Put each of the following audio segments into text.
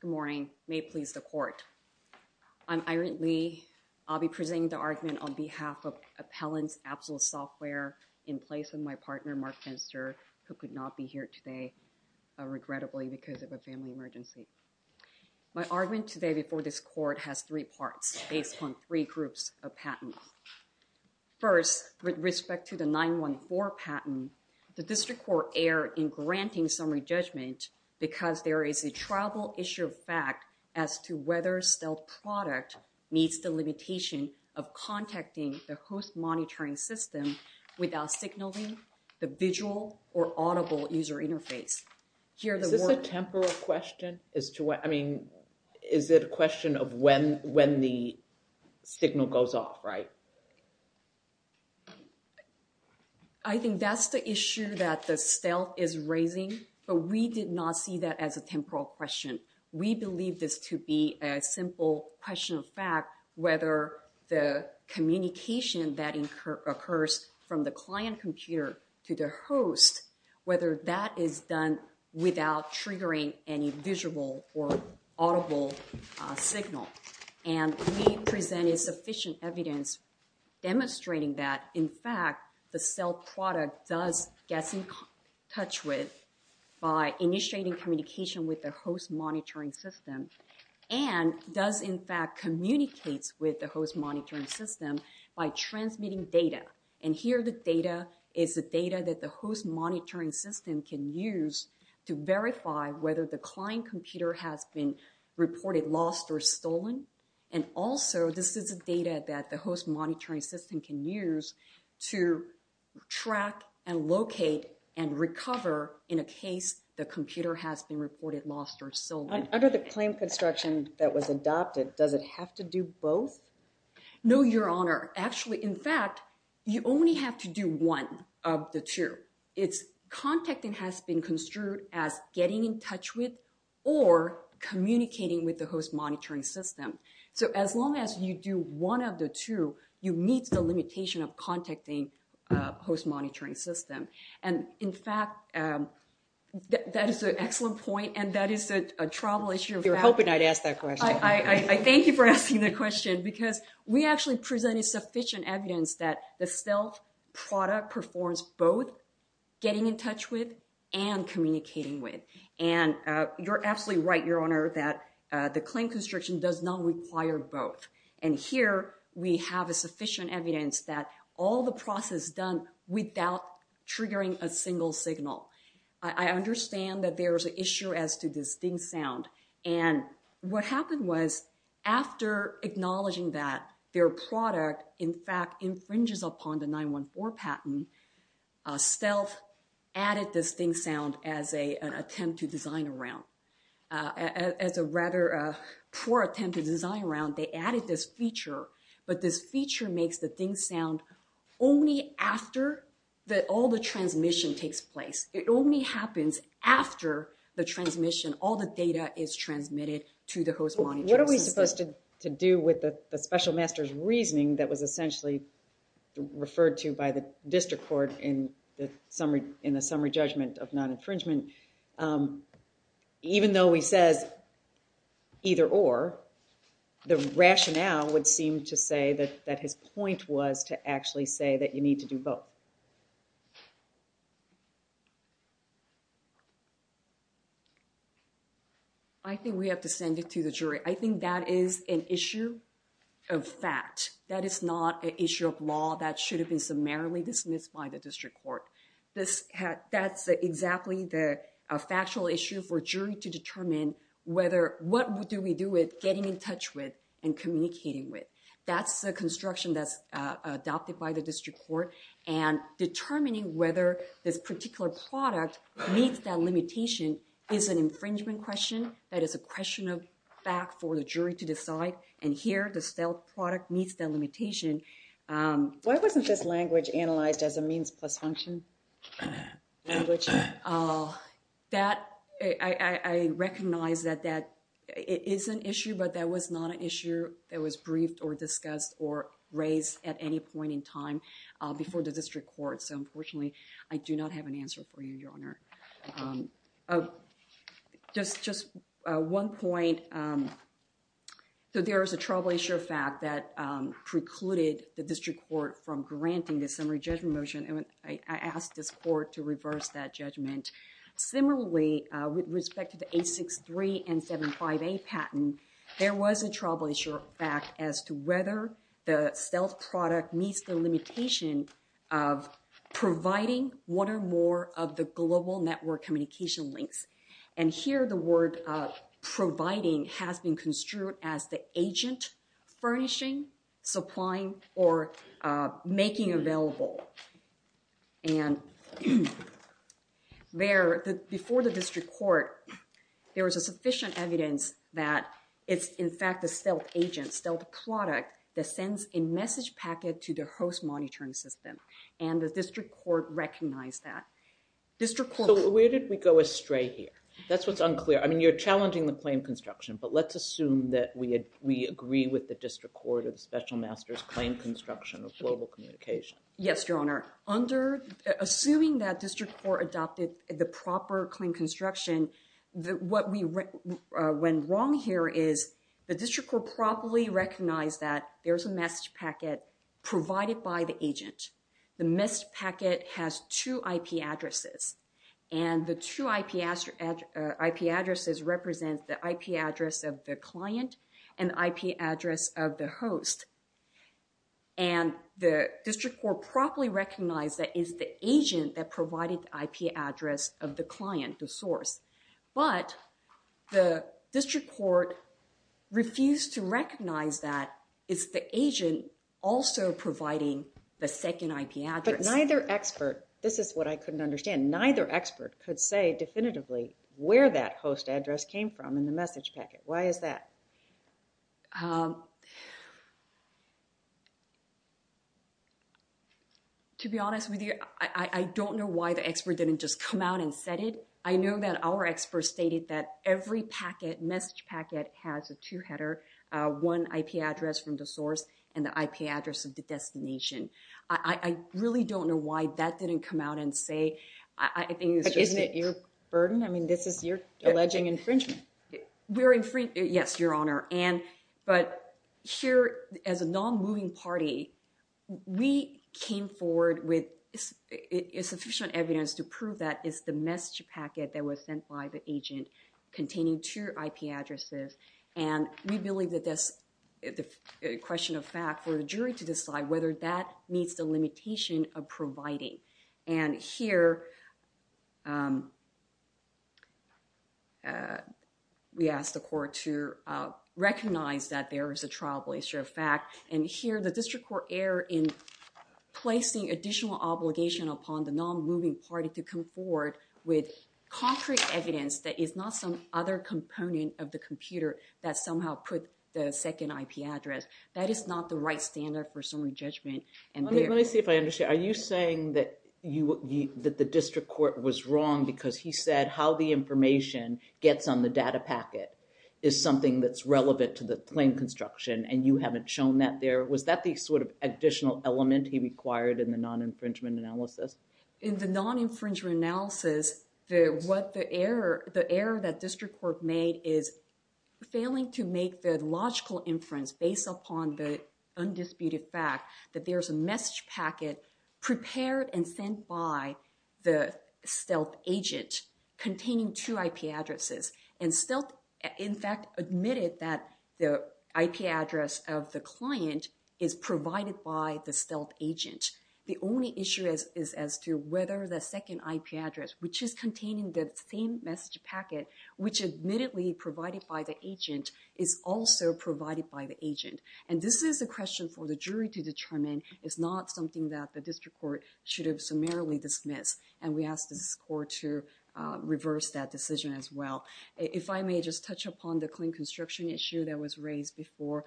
Good morning. May it please the Court. I'm Irene Lee. I'll be presenting the argument on behalf of Appellant Absolute Software in place of my partner, Mark Fenster, who could not be here today, regrettably, because of a family emergency. My argument today before this Court has three parts based on three groups of patents. First, with respect to the 914 patent, the District Court erred in granting summary judgment because there is a tribal issue of fact as to whether stealth product meets the limitation of contacting the host monitoring system without signaling the visual or audible user interface. Is this a temporal question? I mean, is it a question of when the signal goes off, right? I think that's the issue that the stealth is raising, but we did not see that as a temporal question. We believe this to be a simple question of fact, whether the communication that occurs from the client computer to the host, whether that is done without triggering any visual or audible signal. And we presented sufficient evidence demonstrating that, in fact, the stealth product does get in touch with by initiating communication with the host monitoring system and does, in fact, communicate with the host monitoring system by transmitting data. And here, the data is the data that the host monitoring system can use to verify whether the client computer has been reported lost or stolen. And also, this is the data that the host monitoring system can use to track and locate and recover in a case the computer has been reported lost or stolen. Under the claim construction that was adopted, does it have to do both? No, Your Honor. Actually, in fact, you only have to do one of the two. Contacting has been construed as getting in touch with or communicating with the host monitoring system. So as long as you do one of the two, you meet the limitation of contacting host monitoring system. And in fact, that is an excellent point, and that thank you for asking the question, because we actually presented sufficient evidence that the stealth product performs both getting in touch with and communicating with. And you're absolutely right, Your Honor, that the claim construction does not require both. And here, we have a sufficient evidence that all the process done without triggering a single signal. I understand that there's an issue as to this ding sound. And what happened was, after acknowledging that their product, in fact, infringes upon the 914 patent, stealth added this ding sound as an attempt to design around. As a rather poor attempt to design around, they added this feature. But this feature makes the ding sound only after all the transmission takes place. It only happens after the transmission, all the data is transmitted to the host monitoring system. What are we supposed to do with the special master's reasoning that was essentially referred to by the district court in the summary judgment of non-infringement? Even though he says either or, the rationale would seem to say that his point was to actually say that you need to do both. I think we have to send it to the jury. I think that is an issue of fact. That is not an issue of law that should have been summarily dismissed by the district court. That's exactly the factual issue for jury to determine what do we do with getting in touch with and communicating with. That's the construction that's adopted by the district court. And determining whether this particular product meets that limitation is an infringement question. That is a question of fact for the jury to decide. And here, the stealth product meets that limitation. Why wasn't this language analyzed as a means plus function? Language. That, I recognize that that is an issue, but that was not an issue that was briefed or discussed or raised at any point in time before the district court. So, unfortunately, I do not have an answer for you, Your Honor. Just one point. So, there is a trouble issue of fact that precluded the district court from granting the summary judgment motion. I asked this court to reverse that judgment. Similarly, with respect to the 863 and 75A patent, there was a trouble issue of fact as to whether the stealth product meets the limitation of providing one or more of the global network communication links. And here, the word providing has been construed as the agent furnishing, supplying, or making available. And there, before the district court, there was a sufficient evidence that it's, in fact, the stealth agent, stealth product, that sends a message packet to the host monitoring system. And the district court recognized that. District court... So, where did we go astray here? That's what's unclear. I mean, you're challenging the claim construction, but let's assume that we agree with the district court of the special master's claim construction of global communication. Yes, Your Honor. Assuming that district court adopted the proper claim construction, what went wrong here is the district court properly recognized that there's a message packet provided by the agent. The message packet has two IP addresses, and the two IP addresses represent the IP address of the client and the IP address of the host. And the district court properly recognized that it's the agent that provided the IP address of the client, the source. But the district court refused to recognize that it's the agent also providing the second IP address. But neither expert... This is what I couldn't understand. Neither expert could say definitively where that host address came from in the message packet. Why is that? To be honest with you, I don't know why the expert didn't just come out and set it. I know that our experts stated that every packet, message packet, has a two-header, one IP address from the source, and the IP address of the destination. I really don't know why that didn't come out and say... I think it's just... Isn't it your burden? I mean, this is your alleging infringement. Yes, Your Honor. But here, as a non-moving party, we came forward with sufficient evidence to prove that it's the message packet that was sent by the agent containing two IP addresses. And we believe that that's a question of fact for the jury to decide whether that meets the limitation of providing. And here, we asked the court to recognize that there is a trial blister of fact. And here, the district court err in placing additional obligation upon the non-moving party to come forward with concrete evidence that is not some other component of the computer that somehow put the second IP address. That is not the right standard for summary judgment. Let me see if I understand. Are you saying that the district court was wrong because he said how the information gets on the data packet is something that's relevant to the claim construction and you haven't shown that there? Was that the sort of additional element he required in the non-infringement analysis? In the non-infringement analysis, the error that district court made is failing to make the logical inference based upon the undisputed fact that there's a message packet prepared and sent by the stealth agent containing two IP addresses. And stealth, in fact, admitted that the IP address of the client is provided by the stealth agent. The only issue is as to whether the second IP address, which is containing the same message packet, which admittedly provided by the agent, is also provided by the agent. And this is a question for the jury to determine. It's not something that the district court should have summarily dismissed. And we asked the court to reverse that decision as well. If I may just touch upon the claim construction issue that was raised before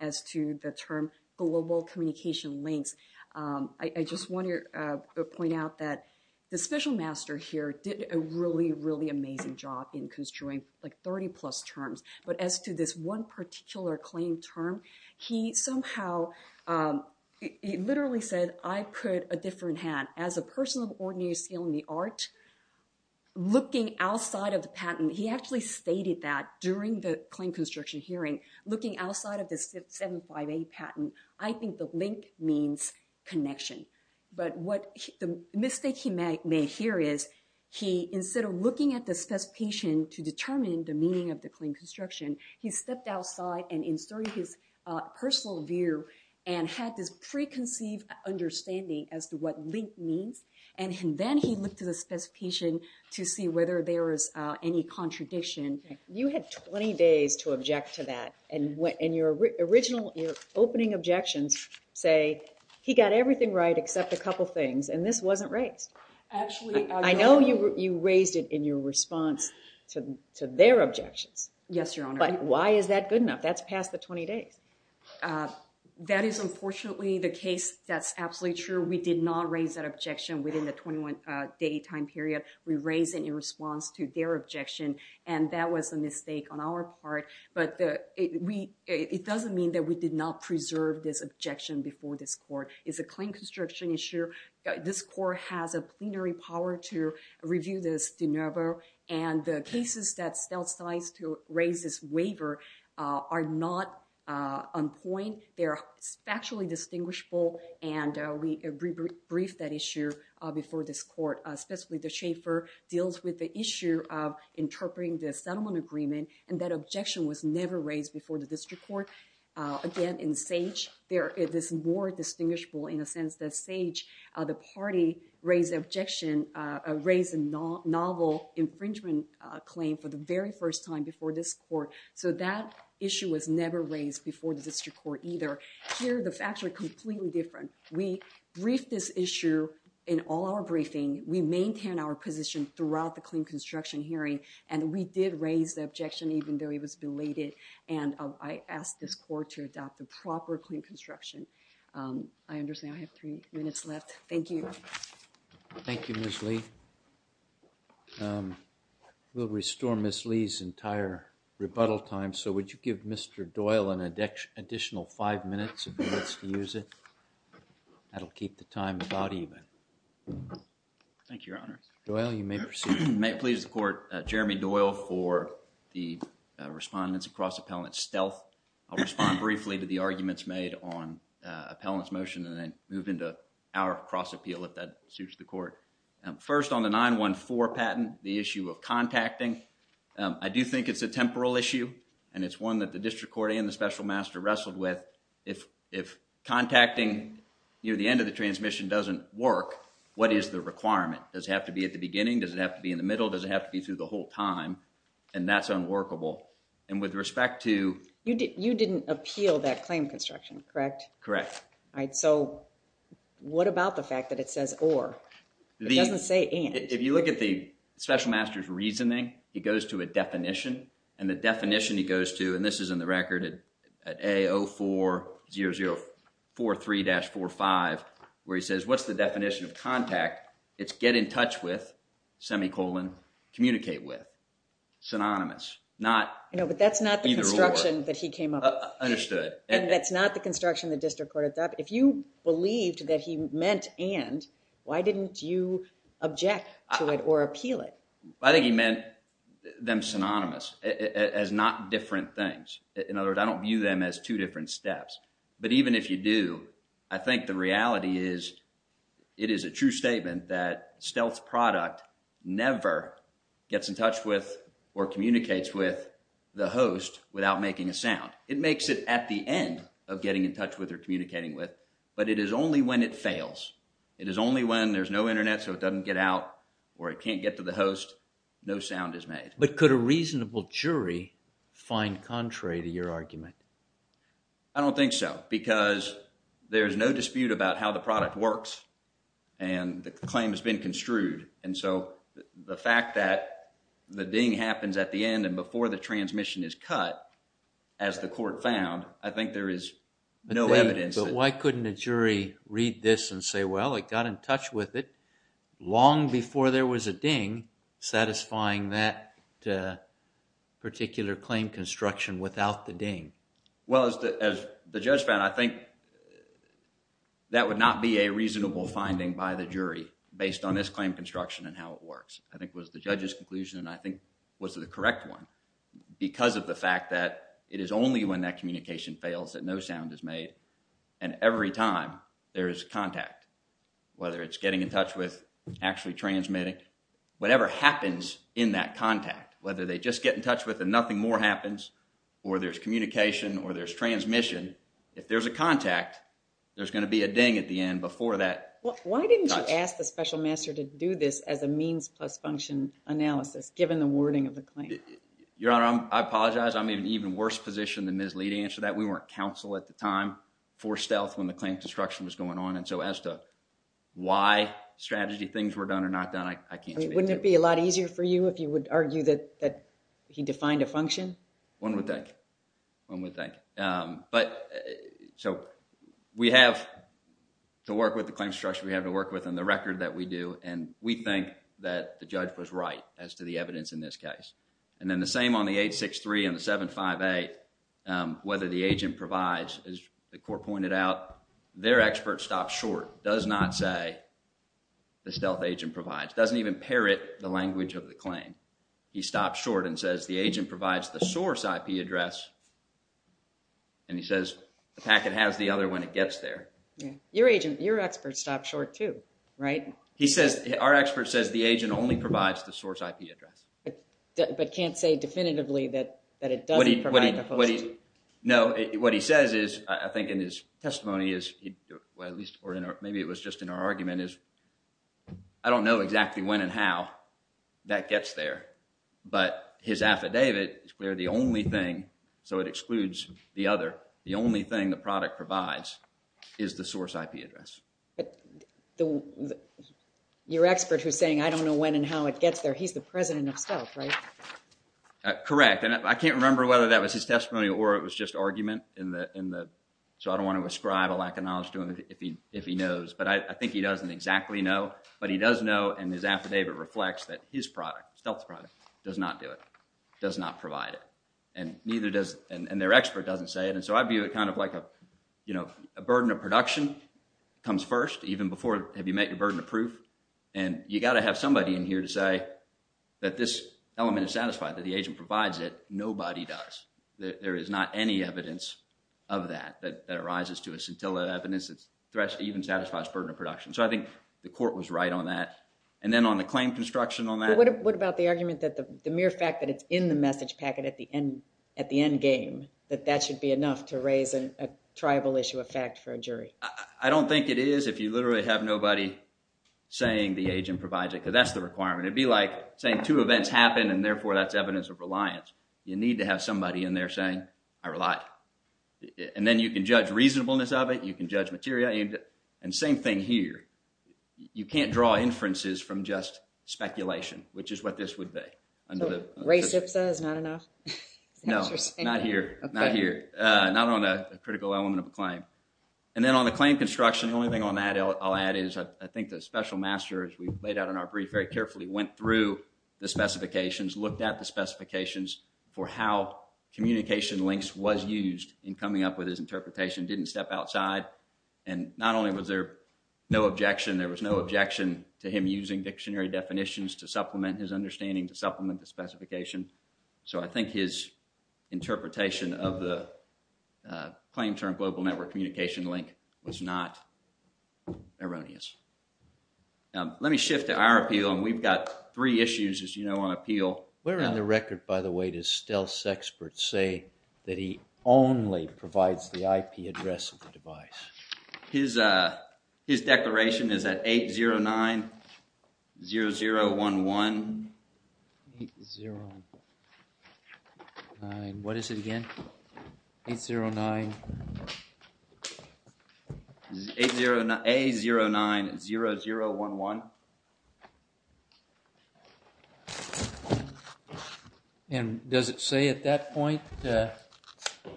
as to the term global communication links. I just want to point out that the special master here did a really, really amazing job in constructing like 30 plus terms. But as to this one particular claim term, he somehow, he literally said, I put a different hand. As a person of the art, looking outside of the patent, he actually stated that during the claim construction hearing, looking outside of the 75A patent, I think the link means connection. But what the mistake he made here is he, instead of looking at the specification to determine the meaning of the claim construction, he stepped outside and inserted his personal view and had this preconceived understanding as to what link means. And then he looked at the specification to see whether there is any contradiction. You had 20 days to object to that. And your original, your opening objections say he got everything right except a couple things. And this wasn't raised. Actually, I know you raised it in your response to their objections. Yes, Your Honor. But why is that good enough? That's past the 20 days. That is unfortunately the case that's absolutely true. We did not raise that objection within the 21 day time period. We raised it in response to their objection. And that was a mistake on our part. But it doesn't mean that we did not preserve this objection before this court. It's a claim construction issue. This court has a plenary power to review this de novo. And the cases that stealth size to raise this on point, they're factually distinguishable. And we briefed that issue before this court, specifically the Schaefer deals with the issue of interpreting the settlement agreement. And that objection was never raised before the district court. Again, in Sage, there is more distinguishable in a sense that Sage, the party raised the objection, raised a novel infringement claim for the very first time before this court. So, that issue was never raised before the district court either. Here, the facts are completely different. We briefed this issue in all our briefing. We maintain our position throughout the claim construction hearing. And we did raise the objection even though it was belated. And I asked this court to adopt the proper claim construction. I understand I have three minutes left. Thank you. Thank you, Ms. Lee. We'll restore Ms. Lee's entire rebuttal time. So, would you give Mr. Doyle an additional five minutes if he wants to use it? That'll keep the time about even. Thank you, Your Honor. Doyle, you may proceed. May it please the court, Jeremy Doyle for the respondents across appellant stealth. I'll respond briefly to the arguments made on appellant's motion and then move into our cross appeal if that suits the court. First on the 914 patent, the issue of contacting. I do think it's a temporal issue and it's one that the district court and the special master wrestled with. If contacting near the end of the transmission doesn't work, what is the requirement? Does it have to be at the beginning? Does it have to be in the middle? Does it have to be through the whole time? And that's unworkable. And with respect to... You didn't appeal that claim correct? Correct. All right. So, what about the fact that it says or? It doesn't say and. If you look at the special master's reasoning, it goes to a definition and the definition he goes to, and this is in the record at A040043-45, where he says, what's the definition of contact? It's get in touch with, semicolon, communicate with, synonymous, not either or. That's the construction that he came up with. Understood. And that's not the construction the district court adopted. If you believed that he meant and, why didn't you object to it or appeal it? I think he meant them synonymous as not different things. In other words, I don't view them as two different steps. But even if you do, I think the reality is, it is a true statement that it makes it at the end of getting in touch with or communicating with, but it is only when it fails. It is only when there's no internet, so it doesn't get out or it can't get to the host, no sound is made. But could a reasonable jury find contrary to your argument? I don't think so, because there's no dispute about how the product works and the claim has been construed. And so, the fact that the ding happens at the end and before the transmission is cut, as the court found, I think there is no evidence. But why couldn't a jury read this and say, well, it got in touch with it long before there was a ding satisfying that particular claim construction without the ding? Well, as the judge found, I think that would not be a reasonable finding by the jury based on this claim construction and how it works. I think it was the judge's conclusion and I think was the correct one, because of the fact that it is only when that communication fails that no sound is made. And every time there is contact, whether it's getting in touch with, actually transmitting, whatever happens in that contact, whether they just get in touch with and nothing more happens, or there's communication or there's transmission, if there's a contact, there's going to be a ding at the end before that. Why didn't you ask the special master to do this as a means plus function analysis, given the wording of the claim? Your Honor, I apologize. I'm in an even worse position than Ms. Lee to answer that. We weren't counsel at the time for stealth when the claim construction was going on. And so, as to why strategy things were done or not done, I can't speak to. Wouldn't it be a lot easier for you if you would argue that he defined a function? One would think. One would think. But so, we have to work with the claim structure, we have to work within the record that we do, and we think that the judge was right as to the evidence in this case. And then the same on the 863 and the 758, whether the agent provides, as the court pointed out, their expert stopped short, does not say the stealth agent provides, doesn't even parrot the language of the claim. He stopped short and the agent provides the source IP address, and he says the packet has the other when it gets there. Your agent, your expert stopped short too, right? He says, our expert says the agent only provides the source IP address. But can't say definitively that it doesn't provide the host? No, what he says is, I think in his testimony is, well at least, or maybe it was just in our affidavit, it's clear the only thing, so it excludes the other, the only thing the product provides is the source IP address. But your expert who's saying I don't know when and how it gets there, he's the president of stealth, right? Correct, and I can't remember whether that was his testimony or it was just argument in the, in the, so I don't want to ascribe a lack of knowledge to him if he, if he knows. But I think he doesn't exactly know, but he does know in his affidavit reflects that his product, stealth product, does not do it, does not provide it, and neither does, and their expert doesn't say it. And so I view it kind of like a, you know, a burden of production comes first, even before, have you met your burden of proof? And you got to have somebody in here to say that this element is satisfied, that the agent provides it. Nobody does. There is not any evidence of that that arises to us until that evidence even satisfies burden of production. So I think the court was right on that. And then on the claim construction on that. What about the argument that the mere fact that it's in the message packet at the end, at the end game, that that should be enough to raise a triable issue of fact for a jury? I don't think it is if you literally have nobody saying the agent provides it because that's the requirement. It'd be like saying two events happen and therefore that's evidence of reliance. You need to have somebody in there saying I relied. And then you can judge reasonableness of it. You can judge material. And same thing here. You can't draw inferences from just speculation, which is what this would be. So race hipster is not enough? No, not here. Not here. Not on a critical element of a claim. And then on the claim construction, the only thing on that I'll add is I think the special master, as we laid out in our brief, very carefully went through the specifications, looked at the specifications for how communication links was used in coming up with his interpretation, didn't step outside. And not only was there no objection, there was no objection to him using dictionary definitions to supplement his understanding, to supplement the specification. So I think his interpretation of the claim term global network communication link was not erroneous. Let me shift to our appeal and we've got three issues, as you know, on appeal. Where in the record, by the way, does Stealth's experts say that he only provides the IP address of the device? His declaration is at 809-0011. 809. What is it again? 809. 809-0011. And does it say at that point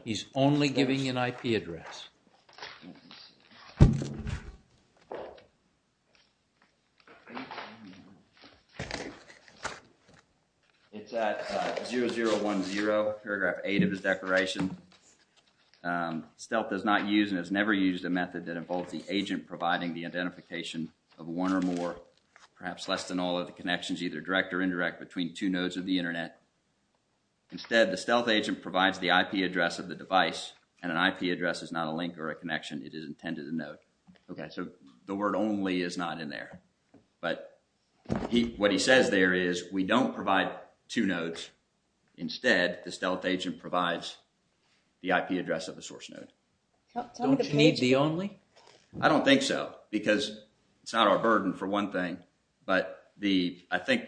he's only giving an IP address? It's at 0010, paragraph eight of his declaration. Stealth does not use and has never used a method that involves the agent providing the identification of one or more, perhaps less than all of the connections, either direct or indirect between two nodes of the internet. Instead, the Stealth agent provides the IP address of the device and an IP address is not a link or a connection, it is intended a node. Okay, so the word only is not in there, but what he says there is we don't provide two nodes. Instead, the Stealth agent provides the IP address of the source node. Don't you need the only? I don't think so, because it's not our burden for one thing, but the, I think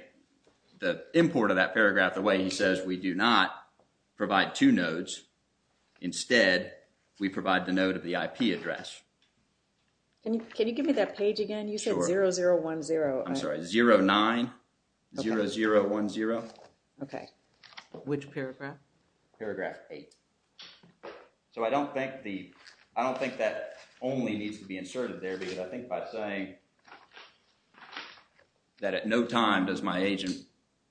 the import of that paragraph, the way he says we do not provide two nodes. Instead, we provide the node of the IP address. Can you, can you give me that page again? You said 0010. I'm sorry, 09-0010. Okay, which paragraph? Paragraph eight. So I don't think the, I don't think that only needs to be inserted there, because I think by saying that at no time does my agent,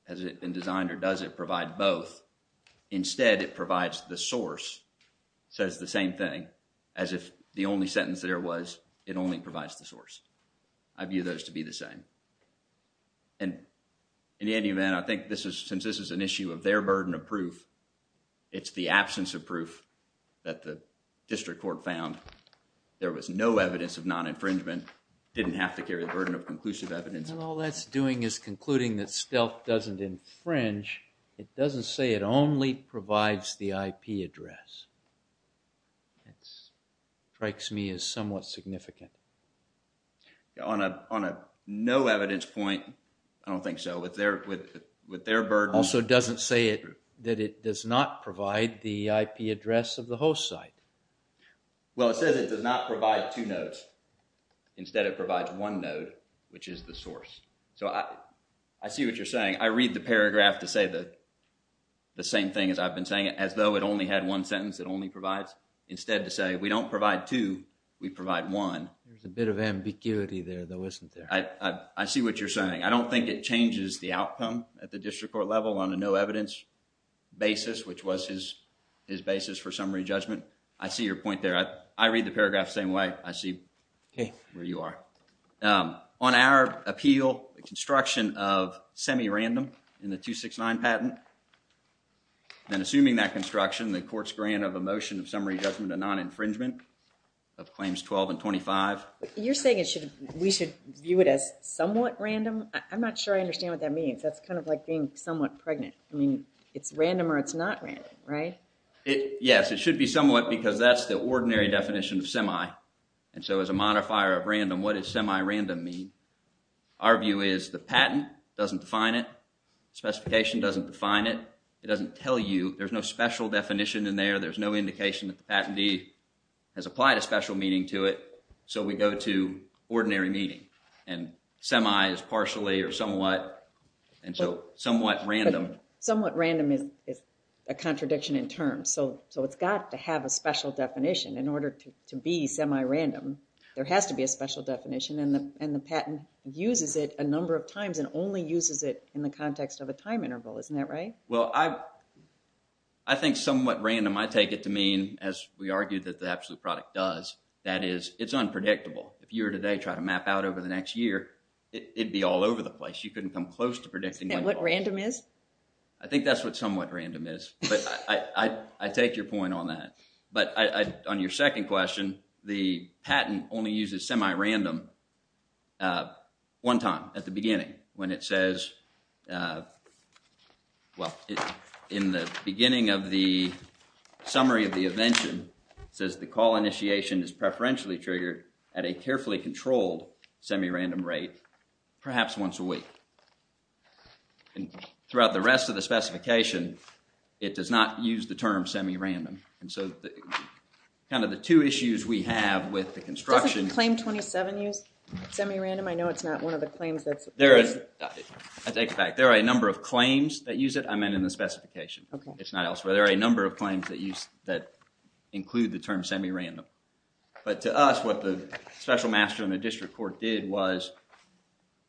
has it been designed or does it provide both, instead it provides the source, says the same thing as if the only sentence there was, it only provides the source. I view those to be the same and in any event, I think this is, since this is an issue of their burden of proof, it's the absence of proof that the district court found. There was no evidence of non-infringement, didn't have to carry the burden of conclusive evidence. And all that's doing is concluding that stealth doesn't infringe, it doesn't say it only provides the IP address. That strikes me as somewhat significant. On a, on a no evidence point, I don't think so, with their, with their burden. Also doesn't say it, that it does not provide the IP address of the host site. Well, it says it does not provide two nodes, instead it provides one node, which is the source. So I, I see what you're saying. I read the paragraph to say the, the same thing as I've been saying it, as though it only had one sentence, it only provides, instead to say we don't provide two, we provide one. There's a bit of ambiguity there though, isn't there? I, I, I see what you're saying. I don't think it changes the outcome at the district court level on a no evidence basis, which was his, his basis for summary judgment. I see your point there. I, I read the paragraph same way. I see where you are. On our appeal, the construction of semi-random in the 269 patent, then assuming that construction, the court's grant of a motion of summary judgment of non-infringement of claims 12 and 25. You're saying it should, we should view it as somewhat random? I'm not sure I understand what that means. That's kind of like being somewhat pregnant. I mean, it's random or it's not random, right? It, yes, it should be somewhat because that's the ordinary definition of semi, and so as a modifier of random, what does semi-random mean? Our view is the patent doesn't define it. Specification doesn't define it. It doesn't tell you. There's no special definition in there. There's no indication that the patentee has applied a special meaning to it, so we go to ordinary meaning, and semi is partially or somewhat, and so somewhat random. Somewhat random is, is a contradiction in terms, so, so it's got to have a special definition in order to, to be semi-random. There has to be a special definition, and the, and the patent uses it a number of times and only uses it in the context of a time interval, isn't that right? Well, I, I think somewhat random, I take it to mean, as we argued that the absolute product does, that is, it's unpredictable. If you were today trying to map out over the next year, it'd be all over the place. You couldn't come close to predicting what random is. I think that's what somewhat random is, but I, I, I take your point on that, but I, I, on your second question, the patent only uses semi-random, uh, one time at the beginning when it says, uh, well, in the beginning of the summary of the invention, it says the call initiation is semi-random rate, perhaps once a week, and throughout the rest of the specification, it does not use the term semi-random, and so the, kind of the two issues we have with the construction... Doesn't claim 27 use semi-random? I know it's not one of the claims that's... There is, I take it back, there are a number of claims that use it, I meant in the specification. Okay. It's not elsewhere. There are a number of claims that use, that include the term semi-random, but to us, what the special master in the district court did was,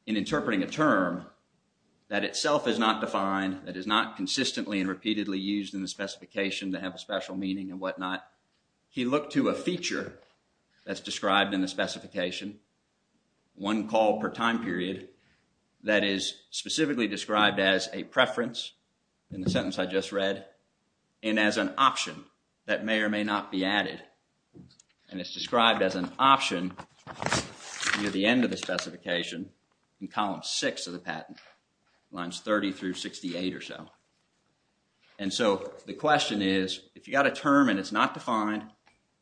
in interpreting a term that itself is not defined, that is not consistently and repeatedly used in the specification to have a special meaning and whatnot, he looked to a feature that's described in the specification, one call per time period, that is specifically described as a preference, in the sentence I just read, and as an option that may or may not be added, and it's described as an option near the end of the specification, in column six of the patent, lines 30 through 68 or so, and so the question is, if you got a term and it's not defined,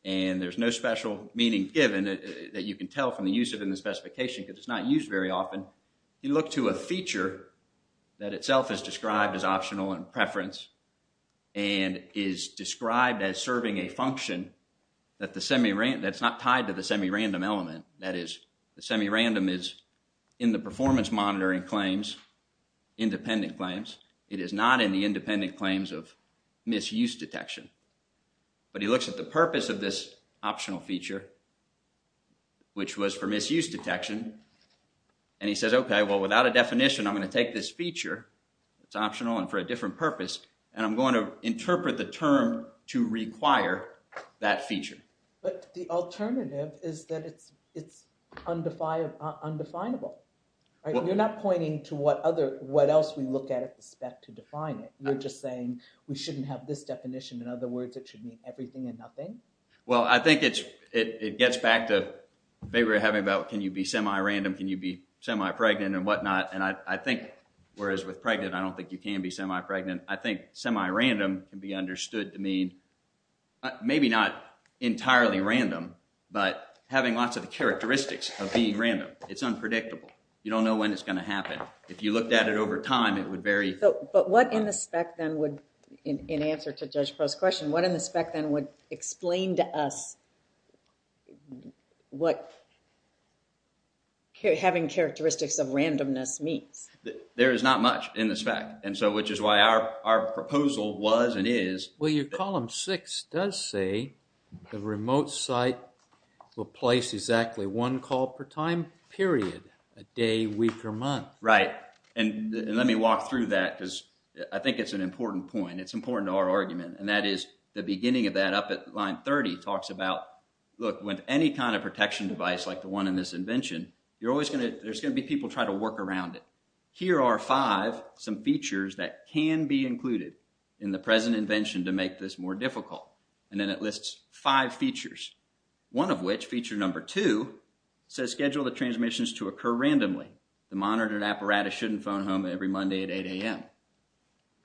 and there's no special meaning given that you can tell from the use of in the specification, because it's not used very often, you look to a feature that itself is described as optional and preference, and is described as serving a function that the semi-random, that's not tied to the semi-random element, that is, the semi-random is in the performance monitoring claims, independent claims, it is not in the independent claims of misuse detection, but he looks at the and he says, okay, well, without a definition, I'm going to take this feature, it's optional and for a different purpose, and I'm going to interpret the term to require that feature. But the alternative is that it's, it's undefined, undefinable, right? You're not pointing to what other, what else we look at at the spec to define it, you're just saying, we shouldn't have this definition, in other words, it should mean everything and nothing. Well, I think it's, it gets back to maybe we're having about, can you be semi-random, can you be semi-pregnant and whatnot, and I think, whereas with pregnant, I don't think you can be semi-pregnant, I think semi-random can be understood to mean, maybe not entirely random, but having lots of characteristics of being random. It's unpredictable. You don't know when it's going to happen. If you looked at it over time, it would vary. But what in the spec then in answer to Judge Prost's question, what in the spec then would explain to us what having characteristics of randomness means? There is not much in the spec, and so, which is why our proposal was and is... Well, your column six does say the remote site will place exactly one call per time period, a day, week, or month. Right, and let me walk through that, because I think it's an important point. It's important to our argument, and that is, the beginning of that up at line 30 talks about, look, with any kind of protection device like the one in this invention, you're always going to, there's going to be people trying to work around it. Here are five, some features that can be included in the present invention to make this more difficult, and then it lists five features, one of which, feature number two, says schedule the transmissions to occur randomly. The monitored apparatus shouldn't phone home every Monday at 8 a.m.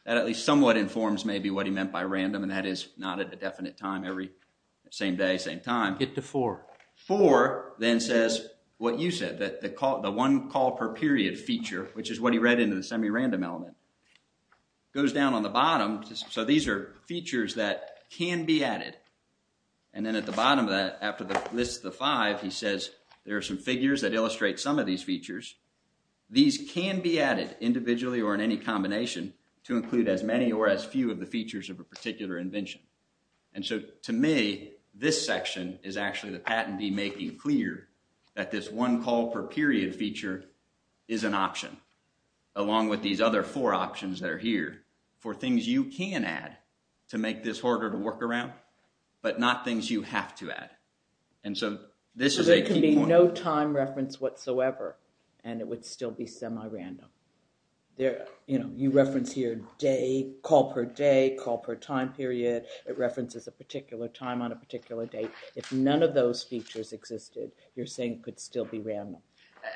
That at least somewhat informs maybe what he meant by random, and that is not at a definite time every same day, same time. Hit the four. Four then says what you said, that the call, the one call per period feature, which is what he read into the semi-random element, goes down on the bottom, so these are features that can be added, and then at the bottom of that, after the lists the five, he says there are some figures that illustrate some of these features. These can be individually or in any combination to include as many or as few of the features of a particular invention, and so to me, this section is actually the patentee making clear that this one call per period feature is an option, along with these other four options that are here for things you can add to make this harder to work around, but not things you have to add, and so this is a key point. There's no random reference whatsoever, and it would still be semi-random. You reference here day, call per day, call per time period. It references a particular time on a particular date. If none of those features existed, you're saying it could still be random.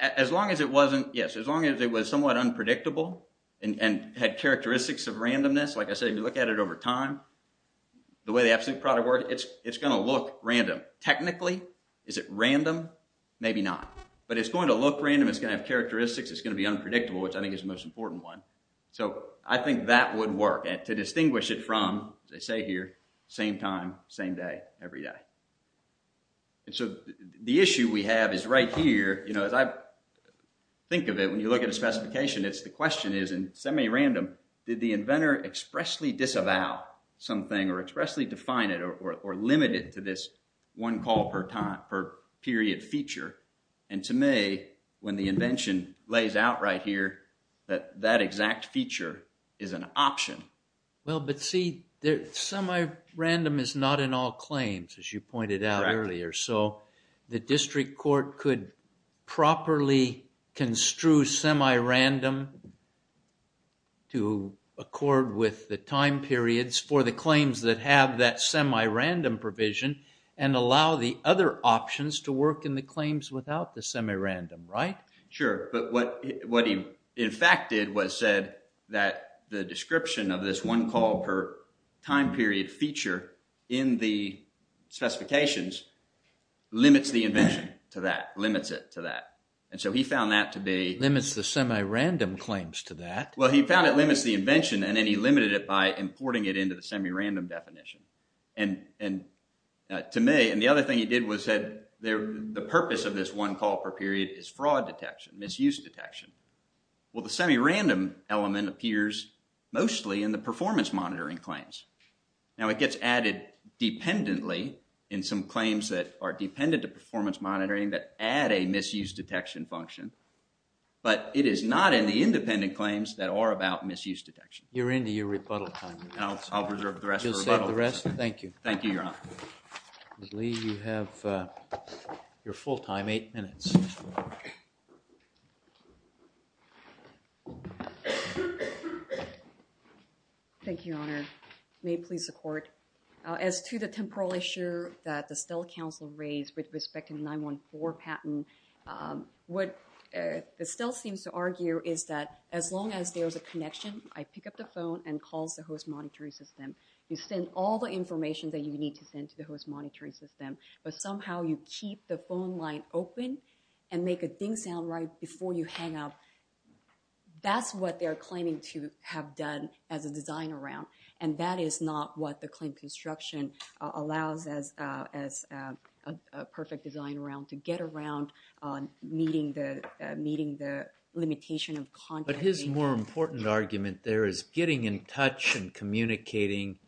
As long as it wasn't, yes, as long as it was somewhat unpredictable and had characteristics of randomness, like I said, if you look at it over time, the way the absolute product works, it's going to look random. Technically, is it random? Maybe not, but it's going to look random. It's going to have characteristics. It's going to be unpredictable, which I think is the most important one, so I think that would work to distinguish it from, as I say here, same time, same day, every day, and so the issue we have is right here. As I think of it, when you look at a specification, the question is in semi-random, did the inventor expressly disavow something or limit it to this one call per time, per period feature, and to me, when the invention lays out right here, that exact feature is an option. Well, but see, semi-random is not in all claims, as you pointed out earlier, so the district court could properly construe semi-random to accord with the time periods for the claims that have that semi-random provision and allow the other options to work in the claims without the semi-random, right? Sure, but what he in fact did was said that the description of this one call per time period feature in the specifications limits the invention to that, limits it to that, and so he found that to be… Limits the semi-random claims to that. Well, he found it limits the invention, and then he limited it by importing it into the semi-random definition, and to me, and the other thing he did was said the purpose of this one call per period is fraud detection, misuse detection. Well, the semi-random element appears mostly in the performance monitoring claims. Now, it gets added dependently in some function, but it is not in the independent claims that are about misuse detection. You're into your rebuttal time. I'll reserve the rest. You'll save the rest? Thank you. Thank you, Your Honor. Ms. Lee, you have your full time, eight minutes. Thank you, Your Honor. May it please the court. As to the temporal issue that the what Estelle seems to argue is that as long as there's a connection, I pick up the phone and calls the host monitoring system. You send all the information that you need to send to the host monitoring system, but somehow you keep the phone line open and make a ding sound right before you hang up. That's what they're claiming to have done as a design around, and that is not what meeting the limitation of contact. But his more important argument there is getting in touch and communicating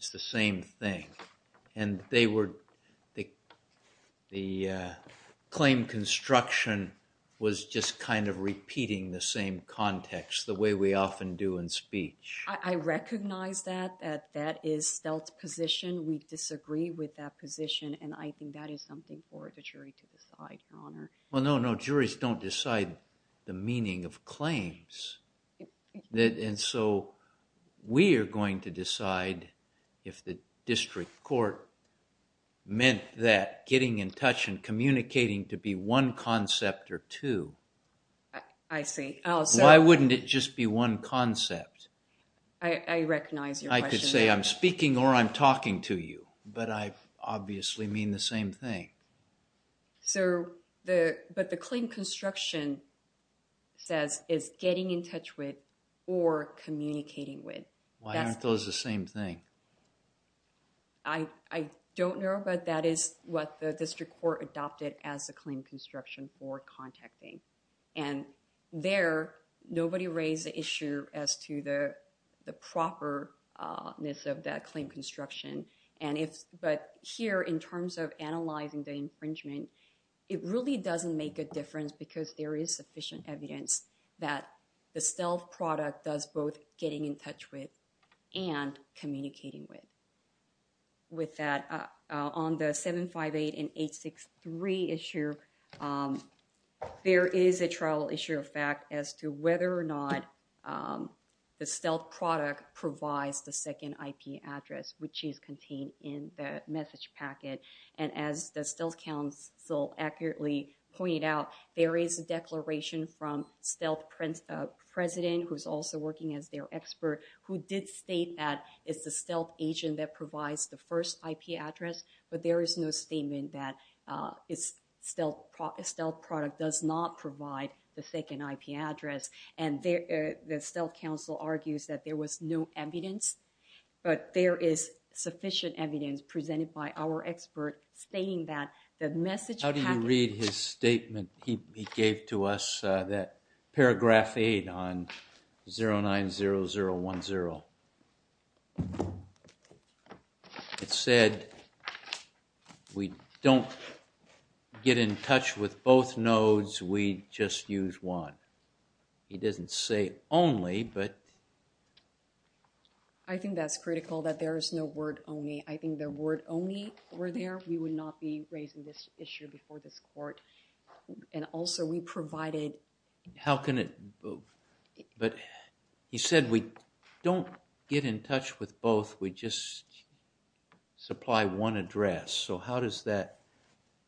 is the same thing, and they were, the claim construction was just kind of repeating the same context the way we often do in speech. I recognize that that is Estelle's position. We disagree with that position, and I think that is something for the jury to decide, Your Honor. Well, no, no, juries don't decide the meaning of claims, and so we are going to decide if the district court meant that getting in touch and communicating to be one concept or two. I see. Why wouldn't it just be one concept? I recognize your question. I could say I'm speaking or I'm talking to you, but I obviously mean the same thing. But the claim construction says is getting in touch with or communicating with. Why aren't those the same thing? I don't know, but that is what the district court adopted as the claim construction for contacting, and there nobody raised the issue as to the properness of that claim construction, and if, but here in terms of analyzing the infringement, it really doesn't make a difference because there is sufficient evidence that the stealth product does both getting in touch with and communicating with. With that, on the 758 and 863 issue, there is a trial issue of fact as to whether or not the stealth product provides the second IP address, which is contained in the message packet, and as the stealth council accurately pointed out, there is a declaration from stealth president, who's also working as their expert, who did state that it's the stealth agent that provides the first IP address, but there is no statement that stealth product does not provide the second IP address, and the stealth council argues that there was no evidence, but there is sufficient evidence presented by our expert stating that the message packet. How do you read his statement he gave to us that paragraph eight on 090010? It said we don't get in touch with both nodes, we just use one. He doesn't say only, but I think that's critical that there is no word only. I think the word only were there. We would not be raising this issue before this court, and also we provided. How can it, but he said we don't get in touch with both, we just supply one address, so how does that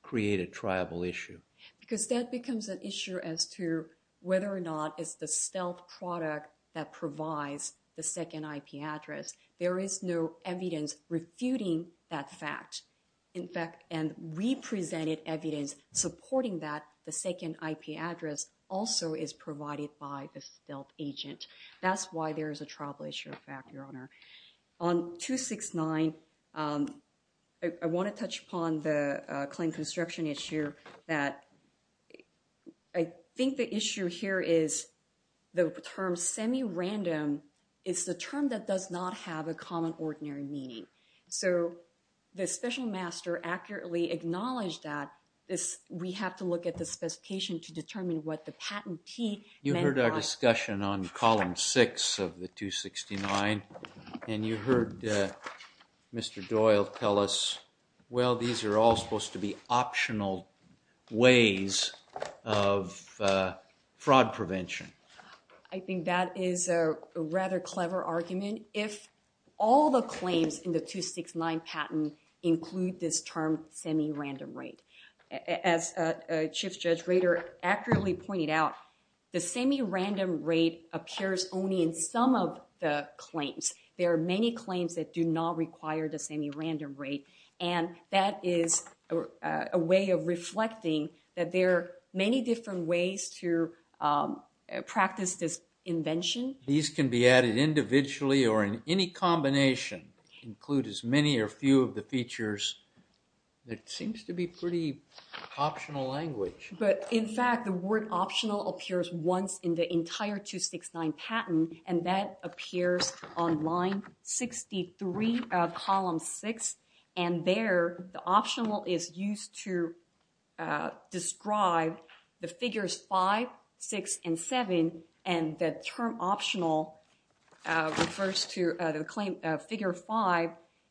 create a tribal issue? Because that becomes an issue as to whether or not it's the stealth product that provides the second IP address. There is no evidence refuting that fact. In fact, and we presented evidence supporting that the second IP address also is provided by the stealth agent. That's why there is a tribal issue of fact, your honor. On 269, I want to touch upon the claim construction issue that I think the issue here is the term semi-random is the term that does not have a common ordinary meaning. So, the special master accurately acknowledged that this we have to look at the specification to determine what the patentee. You heard our discussion on column six of the 269 and you heard Mr. Doyle tell us well these are all supposed to be optional ways of fraud prevention. I think that is a rather clever argument if all the claims in the 269 patent include this term semi-random rate. As a chief judge Rader accurately pointed out, the semi-random rate appears only in some of the claims. There are many claims that do not require the semi-random rate and that is a way of reflecting that there are many different ways to practice this invention. These can be added individually or in any combination include as many or few of the features that seems to be pretty optional language. But in fact the optional appears once in the entire 269 patent and that appears on line 63 of column six and there the optional is used to describe the figures five, six, and seven and the term optional refers to the claim figure five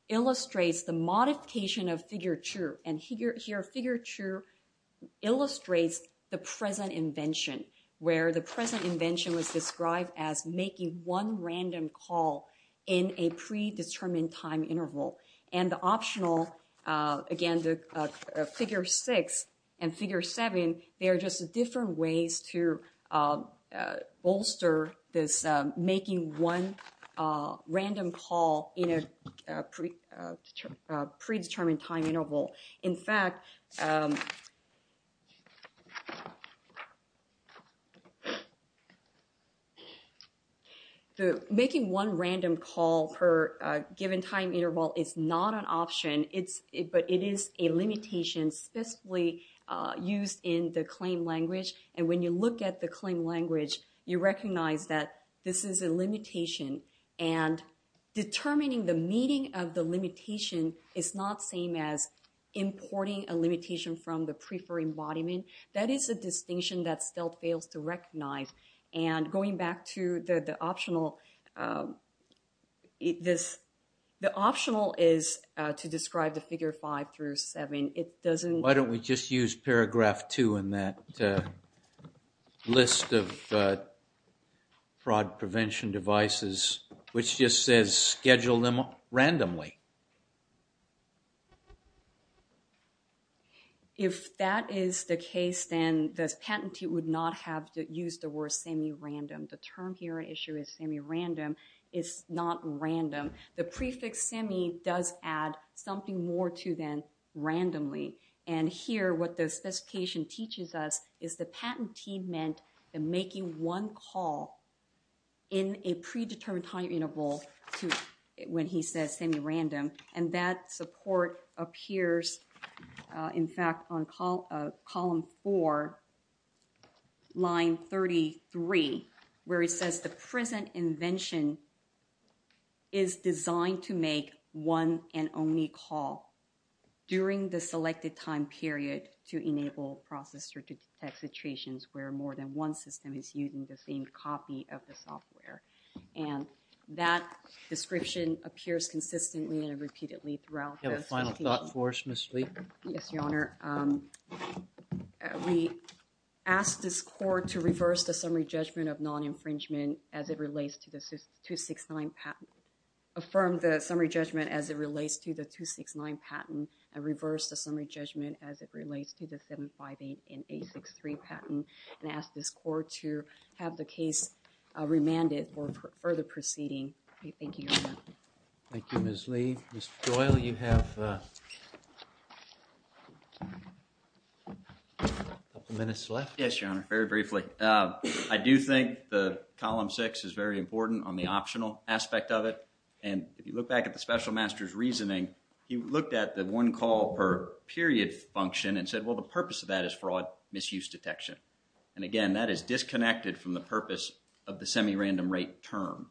illustrates the modification of figure two and here figure two illustrates the present invention where the present invention was described as making one random call in a predetermined time interval and the optional again the figure six and figure seven they are just different ways to bolster this making one random call in a predetermined time interval. In fact, making one random call per given time interval is not an option but it is a limitation specifically used in the claim language and when you look at the claim language you recognize that this is a limitation and determining the meaning of the limitation is not the same as importing a limitation from the prefer embodiment. That is a distinction that stealth fails to recognize and going back to the optional, the optional is to describe the figure five through seven. Why don't we just use paragraph two in that list of fraud prevention devices which just says schedule them randomly. If that is the case then this patentee would not have to use the word semi-random. The term here issue is semi-random. It's not random. The prefix semi does add something more to them randomly and here what the specification teaches us is the predetermined time interval to when he says semi-random and that support appears in fact on column four line 33 where it says the present invention is designed to make one and only call during the selected time period to enable processor to detect situations where more than one system is using the same copy of the software and that description appears consistently and repeatedly throughout. Do you have a final thought for us Ms. Lee? Yes your honor. We asked this court to reverse the summary judgment of non-infringement as it relates to the 269 patent affirm the summary judgment as it relates to the 269 patent and reverse the summary judgment as it relates to the 758 and 863 patent and ask this court to have the case remanded for further proceeding. Thank you. Thank you Ms. Lee. Mr. Doyle you have a couple minutes left. Yes your honor. Very briefly. I do think the column six is very important on the optional aspect of it and if you look back at the special master's reasoning he looked at the one call per period function and said well the purpose of that is fraud misuse detection and again that is disconnected from the purpose of the semi-random rate term.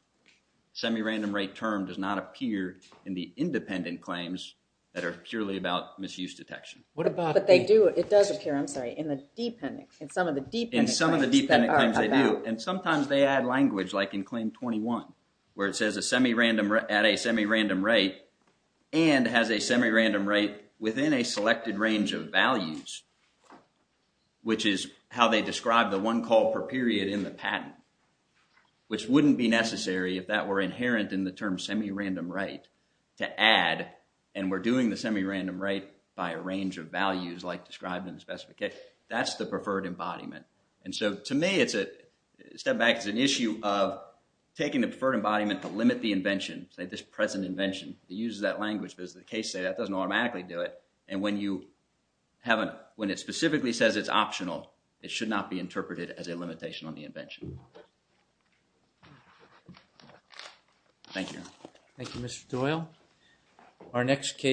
Semi-random rate term does not appear in the independent claims that are purely about misuse detection. What about but they do it does appear I'm sorry in the dependent in some of the deep in some of the dependent claims they do and sometimes they add language like in claim 21 where it says a semi-random at a semi-random rate and has a semi-random rate within a selected range of values which is how they describe the one call per period in the patent which wouldn't be necessary if that were inherent in the term semi-random right to add and we're doing the semi-random right by a range of values like described in the specification that's the preferred issue of taking the preferred embodiment to limit the invention say this present invention it uses that language but as the case say that doesn't automatically do it and when you haven't when it specifically says it's optional it should not be interpreted as a limitation on the invention Thank you. Thank you Mr. Doyle. Our next case